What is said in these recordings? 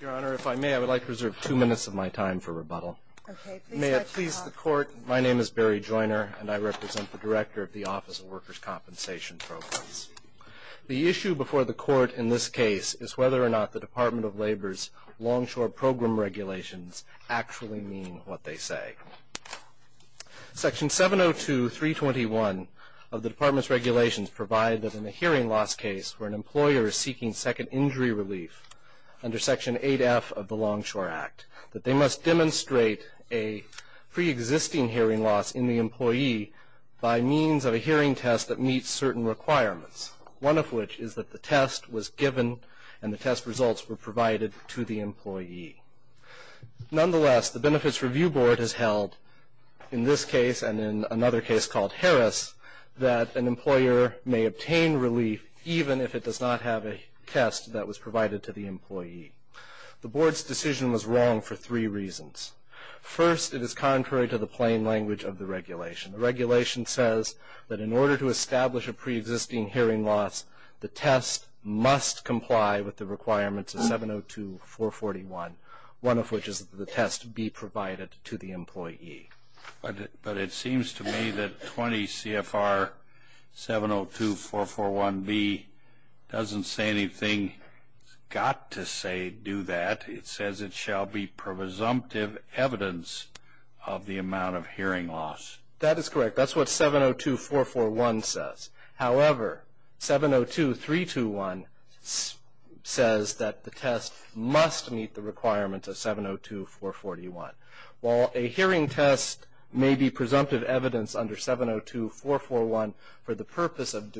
Your Honor, if I may, I would like to reserve two minutes of my time for rebuttal. May it please the Court, my name is Barry Joyner, and I represent the Director of the Office of Workers' Compensation Programs. The issue before the Court in this case is whether or not the Department of Labor's Longshore Program regulations actually mean what they say. Section 702.321 of the Department's regulations provide that in a hearing loss case where an employer is seeking second injury relief under Section 8F of the Longshore Act, that they must demonstrate a preexisting hearing loss in the employee by means of a hearing test that meets certain requirements, one of which is that the test was given and the test results were provided to the employee. Nonetheless, the Benefits Review Board has held in this case and in another case called Harris, that an employer may obtain relief even if it does not have a test that was provided to the employee. The Board's decision was wrong for three reasons. First, it is contrary to the plain language of the regulation. The regulation says that in order to establish a preexisting hearing loss, the test must comply with the requirements of 702.441, one of which is that the test be provided to the employee. But it seems to me that 20 CFR 702.441B doesn't say anything. It's got to say do that. It says it shall be presumptive evidence of the amount of hearing loss. That is correct. That's what 702.441 says. However, 702.321 says that the test must meet the requirements of 702.441. While a hearing test may be presumptive evidence under 702.441 for the purpose of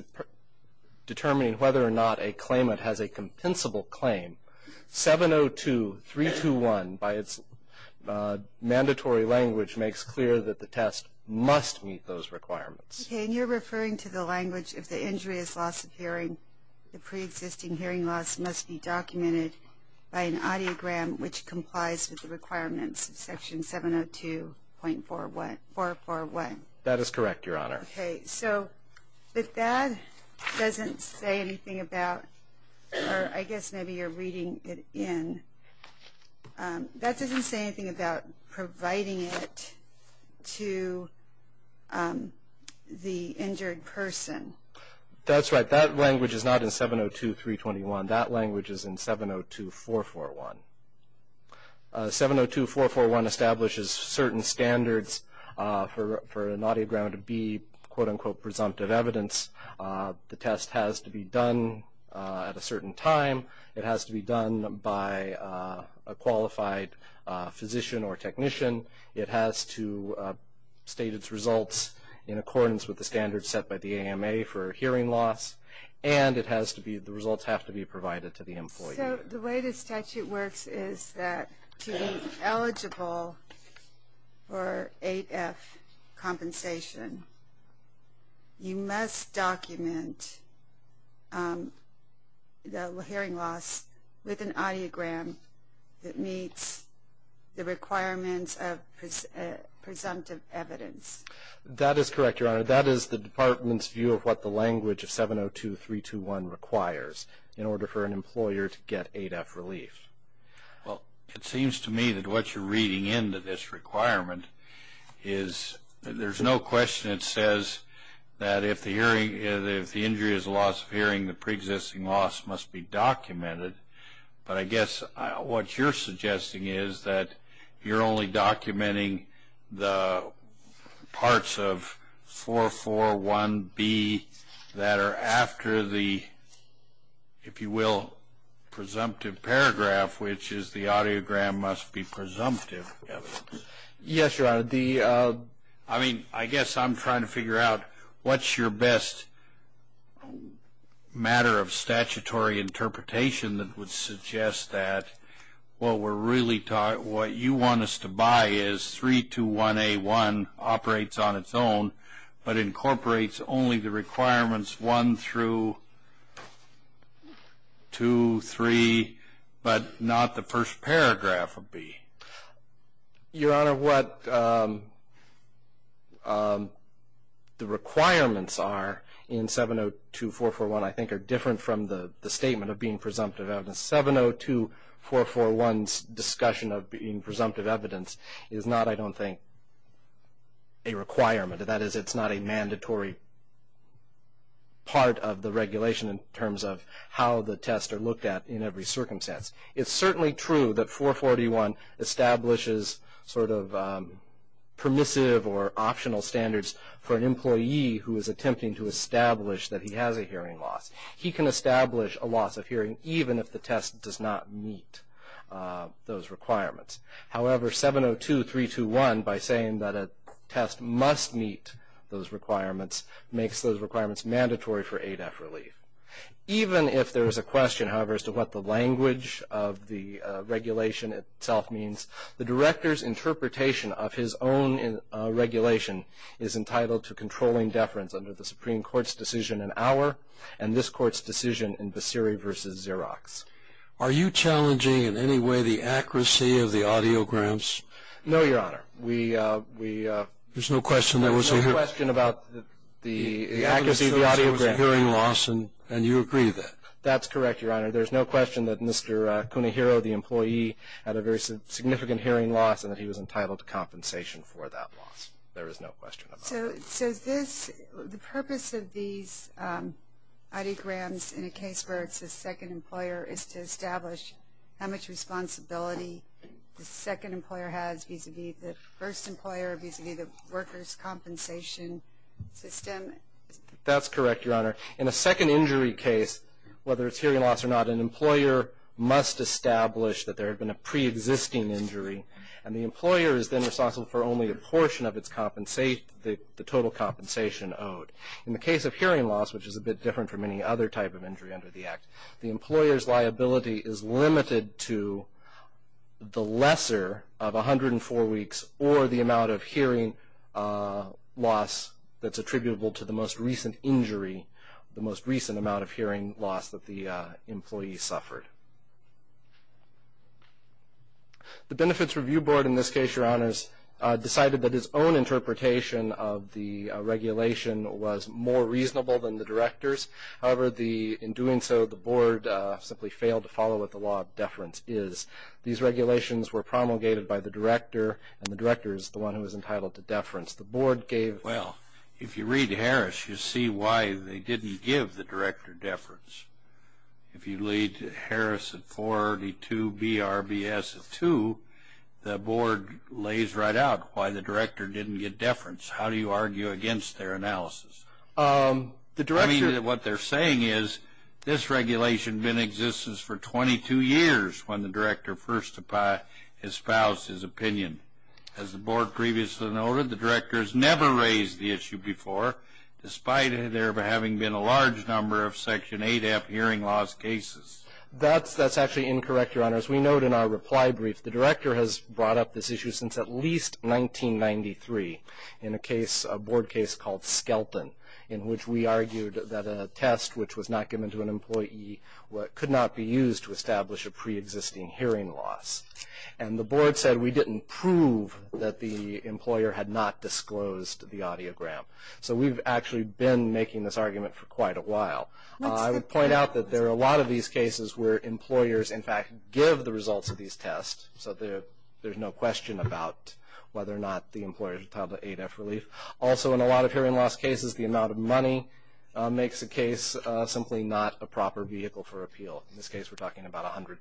determining whether or not a claimant has a compensable claim, 702.321, by its mandatory language, makes clear that the test must meet those requirements. Okay, and you're referring to the language, if the injury is loss of hearing, the preexisting hearing loss must be documented by an audiogram which complies with the requirements of section 702.441. That is correct, Your Honor. Okay, so if that doesn't say anything about, or I guess maybe you're reading it in, that doesn't say anything about providing it to the injured person. That's right. That language is not in 702.321. That language is in 702.441. 702.441 establishes certain standards for an audiogram to be, quote, unquote, presumptive evidence. The test has to be done at a certain time. It has to be done by a qualified physician or technician. It has to state its results in accordance with the standards set by the AMA for hearing loss. And it has to be, the results have to be provided to the employee. So the way the statute works is that to be eligible for 8F compensation, you must document the hearing loss with an audiogram that meets the requirements of presumptive evidence. That is correct, Your Honor. That is the department's view of what the language of 702.321 requires in order for an employer to get 8F relief. Well, it seems to me that what you're reading into this requirement is, there's no question it says that if the injury is a loss of hearing, the preexisting loss must be documented. But I guess what you're suggesting is that you're only documenting the parts of 441B that are after the, if you will, presumptive paragraph, which is the audiogram must be presumptive evidence. Yes, Your Honor. I mean, I guess I'm trying to figure out what's your best matter of statutory interpretation that would suggest that what you want us to buy is 321A1 operates on its own but incorporates only the requirements 1 through 2, 3, but not the first paragraph of B. Your Honor, what the requirements are in 702.441, I think, are different from the statement of being presumptive evidence. 702.441's discussion of being presumptive evidence is not, I don't think, a requirement. That is, it's not a mandatory part of the regulation in terms of how the tests are looked at in every circumstance. It's certainly true that 441 establishes sort of permissive or optional standards for an employee who is attempting to establish that he has a hearing loss. He can establish a loss of hearing even if the test does not meet those requirements. However, 702.321, by saying that a test must meet those requirements, makes those requirements mandatory for ADAF relief. Even if there is a question, however, as to what the language of the regulation itself means, the director's interpretation of his own regulation is entitled to controlling deference under the Supreme Court's decision in Auer and this Court's decision in Basiri v. Xerox. Are you challenging in any way the accuracy of the audiograms? No, Your Honor. There's no question there was a hearing loss and you agree with that? That's correct, Your Honor. There's no question that Mr. Kunihiro, the employee, had a very significant hearing loss and that he was entitled to compensation for that loss. There is no question about that. So the purpose of these audiograms in a case where it's the second employer is to establish how much responsibility the second employer has vis-à-vis the first employer, vis-à-vis the workers' compensation system? That's correct, Your Honor. In a second injury case, whether it's hearing loss or not, an employer must establish that there had been a pre-existing injury and the employer is then responsible for only a portion of the total compensation owed. In the case of hearing loss, which is a bit different from any other type of injury under the Act, the employer's liability is limited to the lesser of 104 weeks or the amount of hearing loss that's attributable to the most recent injury, the most recent amount of hearing loss that the employee suffered. The Benefits Review Board, in this case, Your Honors, decided that its own interpretation of the regulation was more reasonable than the Director's. However, in doing so, the Board simply failed to follow what the law of deference is. These regulations were promulgated by the Director, and the Director is the one who is entitled to deference. Well, if you read Harris, you see why they didn't give the Director deference. If you read Harris at 42, BRBS at 2, the Board lays right out why the Director didn't get deference. How do you argue against their analysis? I mean, what they're saying is this regulation had been in existence for 22 years when the Director first espoused his opinion. As the Board previously noted, the Director has never raised the issue before, despite there having been a large number of Section 8 hearing loss cases. That's actually incorrect, Your Honors. We note in our reply brief the Director has brought up this issue since at least 1993 in a case, a Board case called Skelton, in which we argued that a test which was not given to an employee could not be used to establish a preexisting hearing loss. And the Board said we didn't prove that the employer had not disclosed the audiogram. So we've actually been making this argument for quite a while. I would point out that there are a lot of these cases where employers, in fact, give the results of these tests, so there's no question about whether or not the employer is entitled to ADEF relief. Also, in a lot of hearing loss cases, the amount of money makes a case simply not a proper vehicle for appeal. In this case, we're talking about $100,000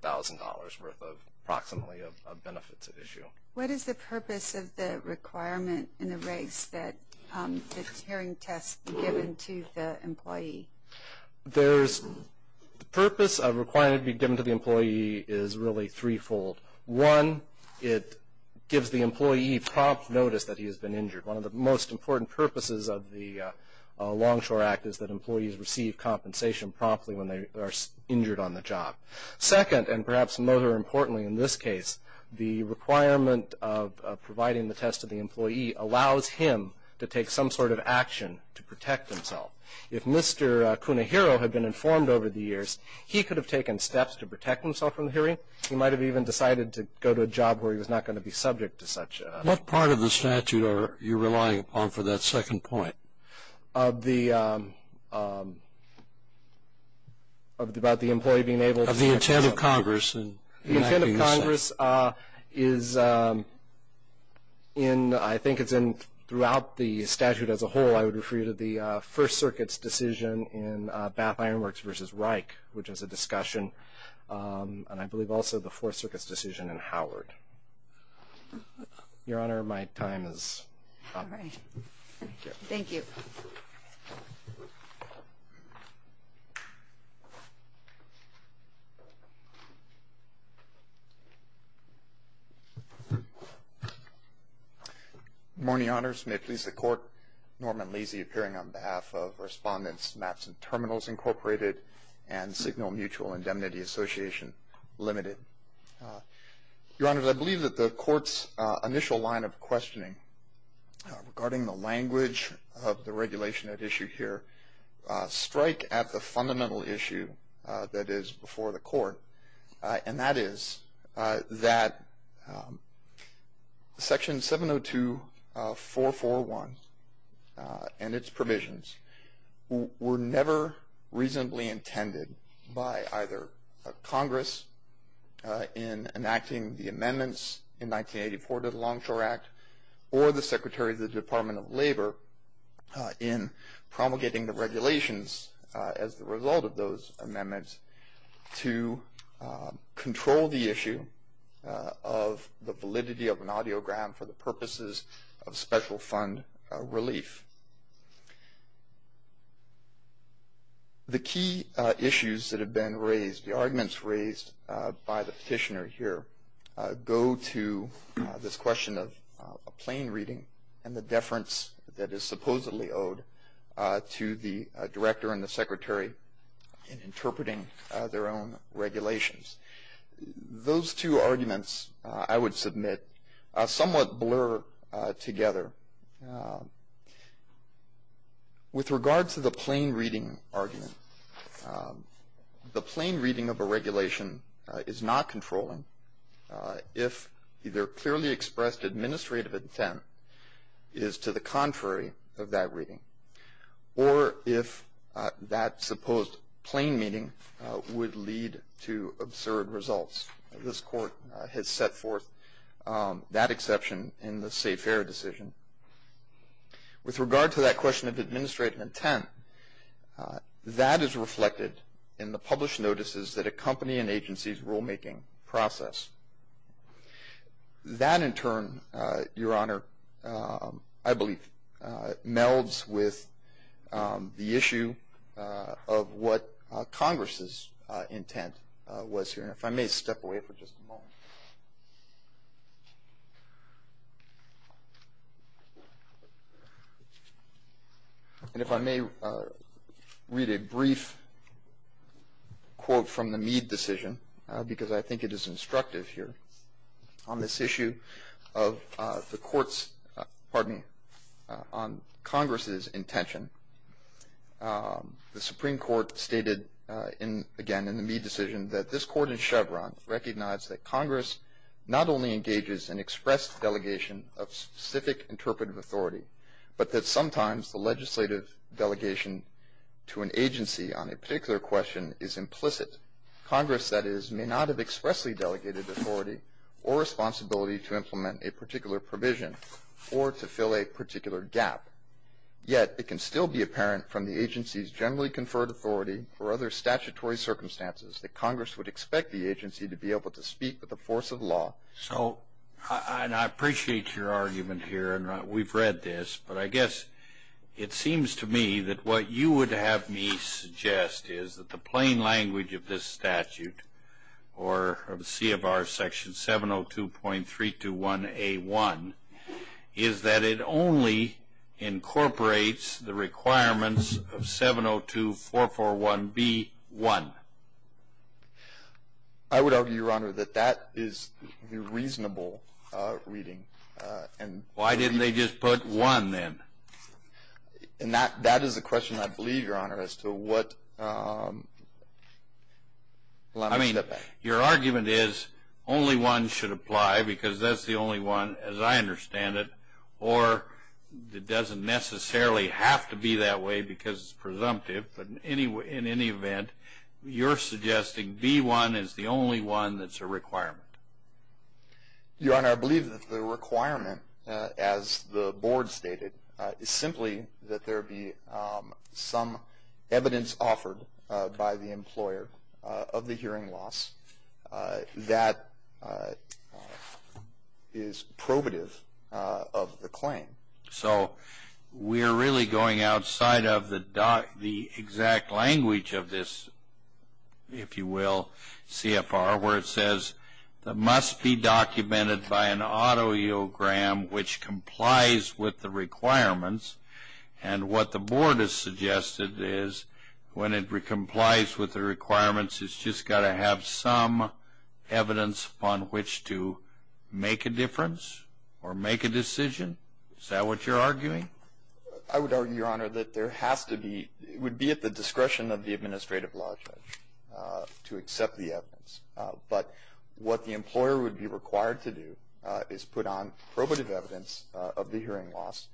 worth of approximately of benefits at issue. What is the purpose of the requirement in the regs that the hearing test be given to the employee? The purpose of the requirement to be given to the employee is really threefold. One, it gives the employee prompt notice that he has been injured. One of the most important purposes of the Longshore Act is that employees receive compensation promptly when they are injured on the job. Second, and perhaps more importantly in this case, the requirement of providing the test to the employee allows him to take some sort of action to protect himself. If Mr. Kunihiro had been informed over the years, he could have taken steps to protect himself from the hearing. He might have even decided to go to a job where he was not going to be subject to such. What part of the statute are you relying upon for that second point? Of the employee being able to protect himself? Of the intent of Congress. The intent of Congress is in, I think it's in, throughout the statute as a whole, I would refer you to the First Circuit's decision in Bath Iron Works v. Reich, which was a discussion, and I believe also the Fourth Circuit's decision in Howard. Your Honor, my time is up. Thank you. Thank you. Good morning, Your Honors. May it please the Court, Norman Leasy appearing on behalf of Respondents Maps and Terminals, Incorporated and Signal Mutual Indemnity Association, Limited. Your Honors, I believe that the Court's initial line of questioning regarding the language of the regulation at issue here strike at the fundamental issue that is before the Court, and that is that Section 702.441 and its provisions were never reasonably intended by either Congress in enacting the amendments in 1984 to the Longshore Act or the Secretary of the Department of Labor in promulgating the regulations as a result of those amendments to control the issue of the validity of an audiogram for the purposes of special fund relief. The key issues that have been raised, the arguments raised by the petitioner here, go to this question of a plain reading and the deference that is supposedly owed to the Director and the Secretary in interpreting their own regulations. Those two arguments, I would submit, somewhat blur together. With regard to the plain reading argument, the plain reading of a regulation is not controlling if either clearly expressed administrative intent is to the contrary of that reading or if that supposed plain meaning would lead to absurd results. This Court has set forth that exception in the safe air decision. With regard to that question of administrative intent, that is reflected in the published notices that accompany an agency's rulemaking process. That, in turn, Your Honor, I believe, melds with the issue of what Congress's intent was here. If I may step away for just a moment. And if I may read a brief quote from the Mead decision, because I think it is instructive here on this issue of the Court's, pardon me, on Congress's intention. The Supreme Court stated, again, in the Mead decision, that this Court in Chevron recognized that Congress not only engages in express delegation of specific interpretive authority, but that sometimes the legislative delegation to an agency on a particular question is implicit. Congress, that is, may not have expressly delegated authority or responsibility to implement a particular provision or to fill a particular gap. Yet, it can still be apparent from the agency's generally conferred authority for other statutory circumstances that Congress would expect the agency to be able to speak with the force of law. So, and I appreciate your argument here, and we've read this, but I guess it seems to me that what you would have me suggest is that the plain language of this statute, or of the C of R, section 702.321A1, is that it only incorporates the requirements of 702.441B1. I would argue, Your Honor, that that is the reasonable reading. Why didn't they just put 1 then? And that is a question, I believe, Your Honor, as to what... I mean, your argument is only one should apply because that's the only one, as I understand it, or it doesn't necessarily have to be that way because it's presumptive, but in any event, you're suggesting B1 is the only one that's a requirement. Your Honor, I believe that the requirement, as the Board stated, is simply that there be some evidence offered by the employer of the hearing loss that is probative of the claim. So we're really going outside of the exact language of this, if you will, CFR, where it says there must be documented by an auto-eogram which complies with the requirements, and what the Board has suggested is when it complies with the requirements, it's just got to have some evidence upon which to make a difference or make a decision. Is that what you're arguing? I would argue, Your Honor, that there has to be, it would be at the discretion of the administrative law judge to accept the evidence, but what the employer would be required to do is put on probative evidence of the hearing loss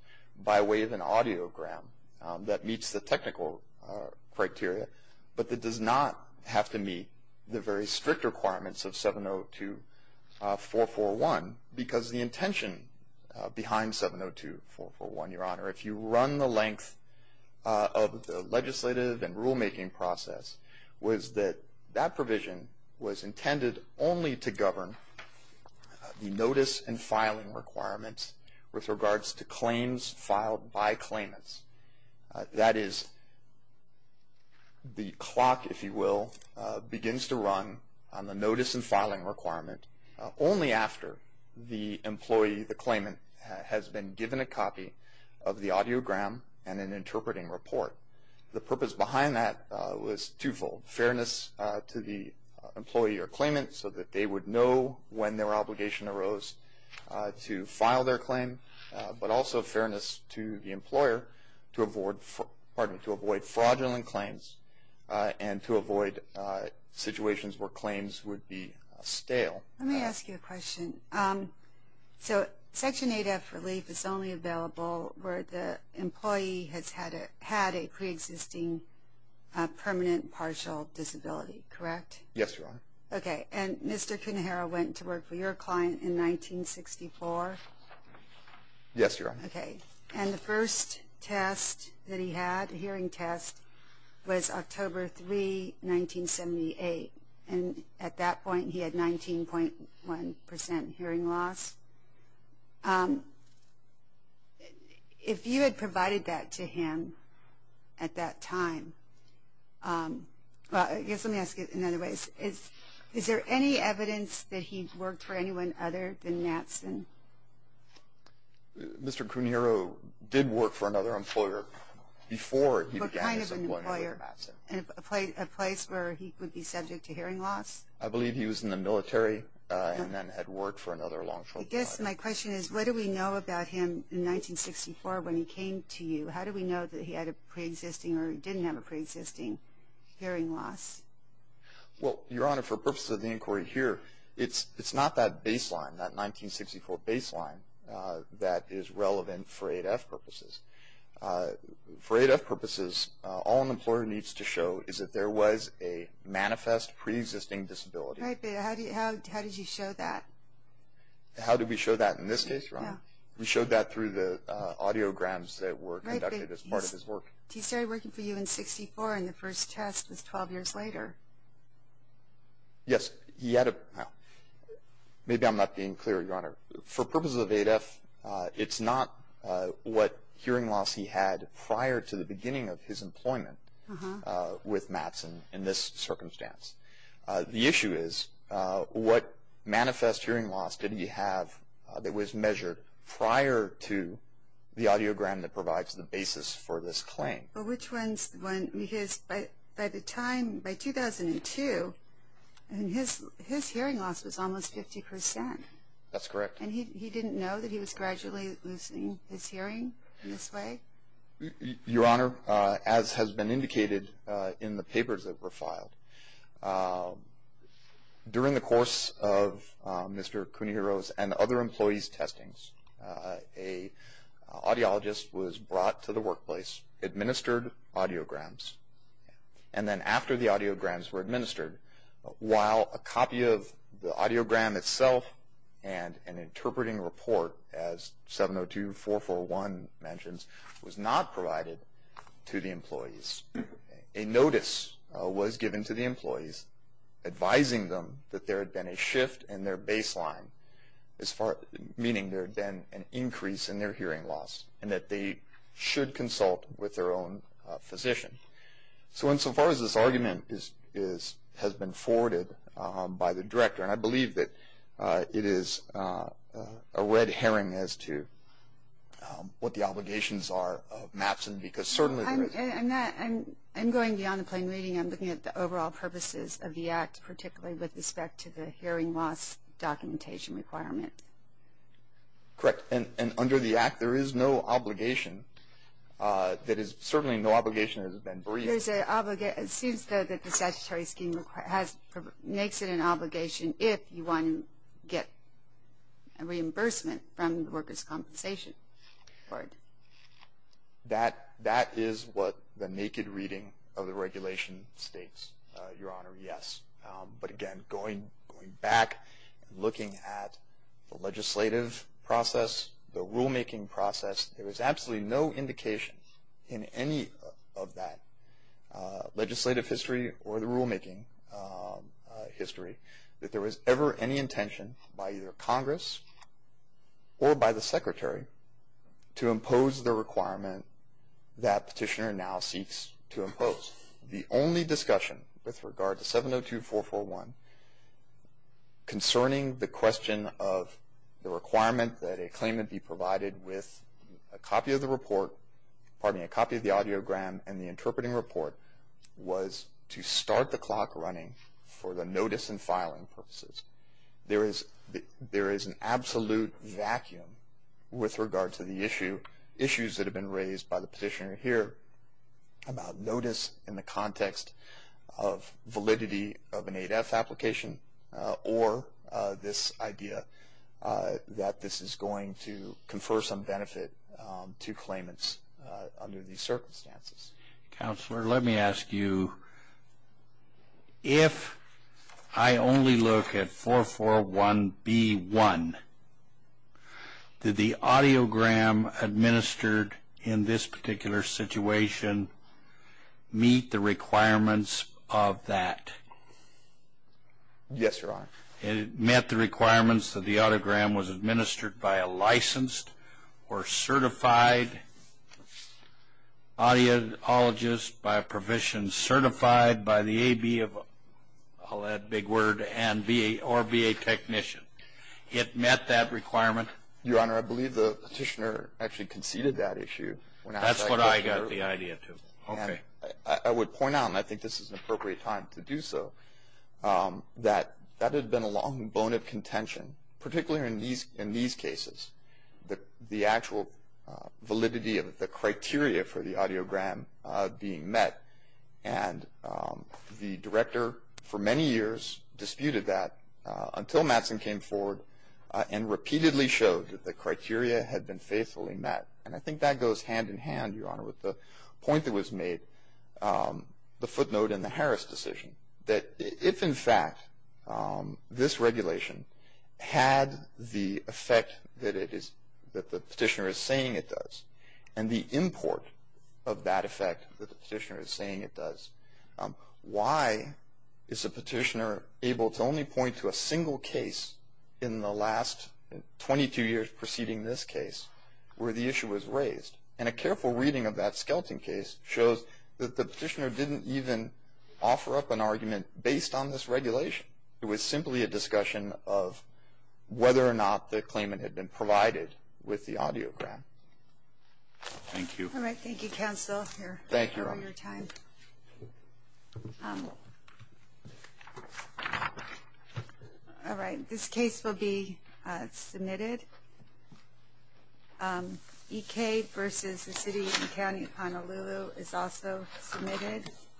by way of an audiogram that meets the technical criteria, but that does not have to meet the very strict requirements of 702441 because the intention behind 702441, Your Honor, if you run the length of the legislative and rulemaking process, was that that provision was intended only to govern the notice and filing requirements with regards to claims filed by claimants. That is, the clock, if you will, begins to run on the notice and filing requirement only after the employee, the claimant, has been given a copy of the audiogram and an interpreting report. The purpose behind that was twofold, fairness to the employee or claimant so that they would know when their obligation arose to file their claim, but also fairness to the employer to avoid fraudulent claims and to avoid situations where claims would be stale. Let me ask you a question. So, Section 8F relief is only available where the employee has had a preexisting permanent partial disability, correct? Yes, Your Honor. Okay, and Mr. Kunihara went to work for your client in 1964? Yes, Your Honor. Okay, and the first test that he had, a hearing test, was October 3, 1978, and at that point he had 19.1% hearing loss. If you had provided that to him at that time, well, I guess let me ask it in other ways. Is there any evidence that he worked for anyone other than Mattson? Mr. Kunihara did work for another employer before he began his employment with Mattson. What kind of an employer? A place where he would be subject to hearing loss? I believe he was in the military and then had worked for another long-term provider. I guess my question is, what do we know about him in 1964 when he came to you? How do we know that he had a preexisting or didn't have a preexisting hearing loss? Well, Your Honor, for purposes of the inquiry here, it's not that baseline, that 1964 baseline that is relevant for AF purposes. For AF purposes, all an employer needs to show is that there was a manifest preexisting disability. Right, but how did you show that? How did we show that in this case, Your Honor? We showed that through the audiograms that were conducted as part of his work. Right, but he started working for you in 1964 and the first test was 12 years later. Yes, he had a, maybe I'm not being clear, Your Honor. For purposes of AF, it's not what hearing loss he had prior to the beginning of his employment with Mattson in this circumstance. The issue is what manifest hearing loss did he have that was measured prior to the audiogram that provides the basis for this claim? Well, which ones? Because by the time, by 2002, his hearing loss was almost 50%. That's correct. And he didn't know that he was gradually losing his hearing in this way? Your Honor, as has been indicated in the papers that were filed, during the course of Mr. Kunihiro's and other employees' testings, an audiologist was brought to the workplace, administered audiograms, and then after the audiograms were administered, while a copy of the audiogram itself and an interpreting report, as 702441 mentions, was not provided to the employees. A notice was given to the employees advising them that there had been a shift in their baseline, meaning there had been an increase in their hearing loss, and that they should consult with their own physician. So insofar as this argument has been forwarded by the director, and I believe that it is a red herring as to what the obligations are of Mattson, because certainly there is. I'm going beyond the plain reading. I'm looking at the overall purposes of the act, particularly with respect to the hearing loss documentation requirement. Correct. And under the act, there is no obligation. Certainly no obligation has been briefed. It seems, though, that the statutory scheme makes it an obligation if you want to get a reimbursement from the workers' compensation board. That is what the naked reading of the regulation states, Your Honor, yes. But again, going back and looking at the legislative process, the rulemaking process, there was absolutely no indication in any of that legislative history or the rulemaking history that there was ever any intention by either Congress or by the Secretary to impose the requirement that Petitioner now seeks to impose. The only discussion with regard to 702441 concerning the question of the requirement that a claim would be provided with a copy of the report, pardon me, a copy of the audiogram and the interpreting report, was to start the clock running for the notice and filing purposes. There is an absolute vacuum with regard to the issues that have been raised by the Petitioner here about notice in the context of validity of an 8F application or this idea that this is going to confer some benefit to claimants under these circumstances. Counselor, let me ask you, if I only look at 441B1, did the audiogram administered in this particular situation meet the requirements of that? Yes, Your Honor. It met the requirements that the audiogram was administered by a licensed or certified audiologist by a provision certified by the AB of all that big word or VA technician. It met that requirement. Your Honor, I believe the Petitioner actually conceded that issue. That's what I got the idea to. Okay. I would point out, and I think this is an appropriate time to do so, that that had been a long bone of contention, particularly in these cases. The actual validity of the criteria for the audiogram being met, and the Director for many years disputed that until Mattson came forward and repeatedly showed that the criteria had been faithfully met. And I think that goes hand-in-hand, Your Honor, with the point that was made, the footnote in the Harris decision, that if, in fact, this regulation had the effect that the Petitioner is saying it does and the import of that effect that the Petitioner is saying it does, why is the Petitioner able to only point to a single case in the last 22 years preceding this case where the issue was raised? And a careful reading of that Skelton case shows that the Petitioner didn't even offer up an argument based on this regulation. It was simply a discussion of whether or not the claimant had been provided with the audiogram. Thank you. All right. Thank you, Your Honor. All right. This case will be submitted. EK versus the City and County of Honolulu is also submitted.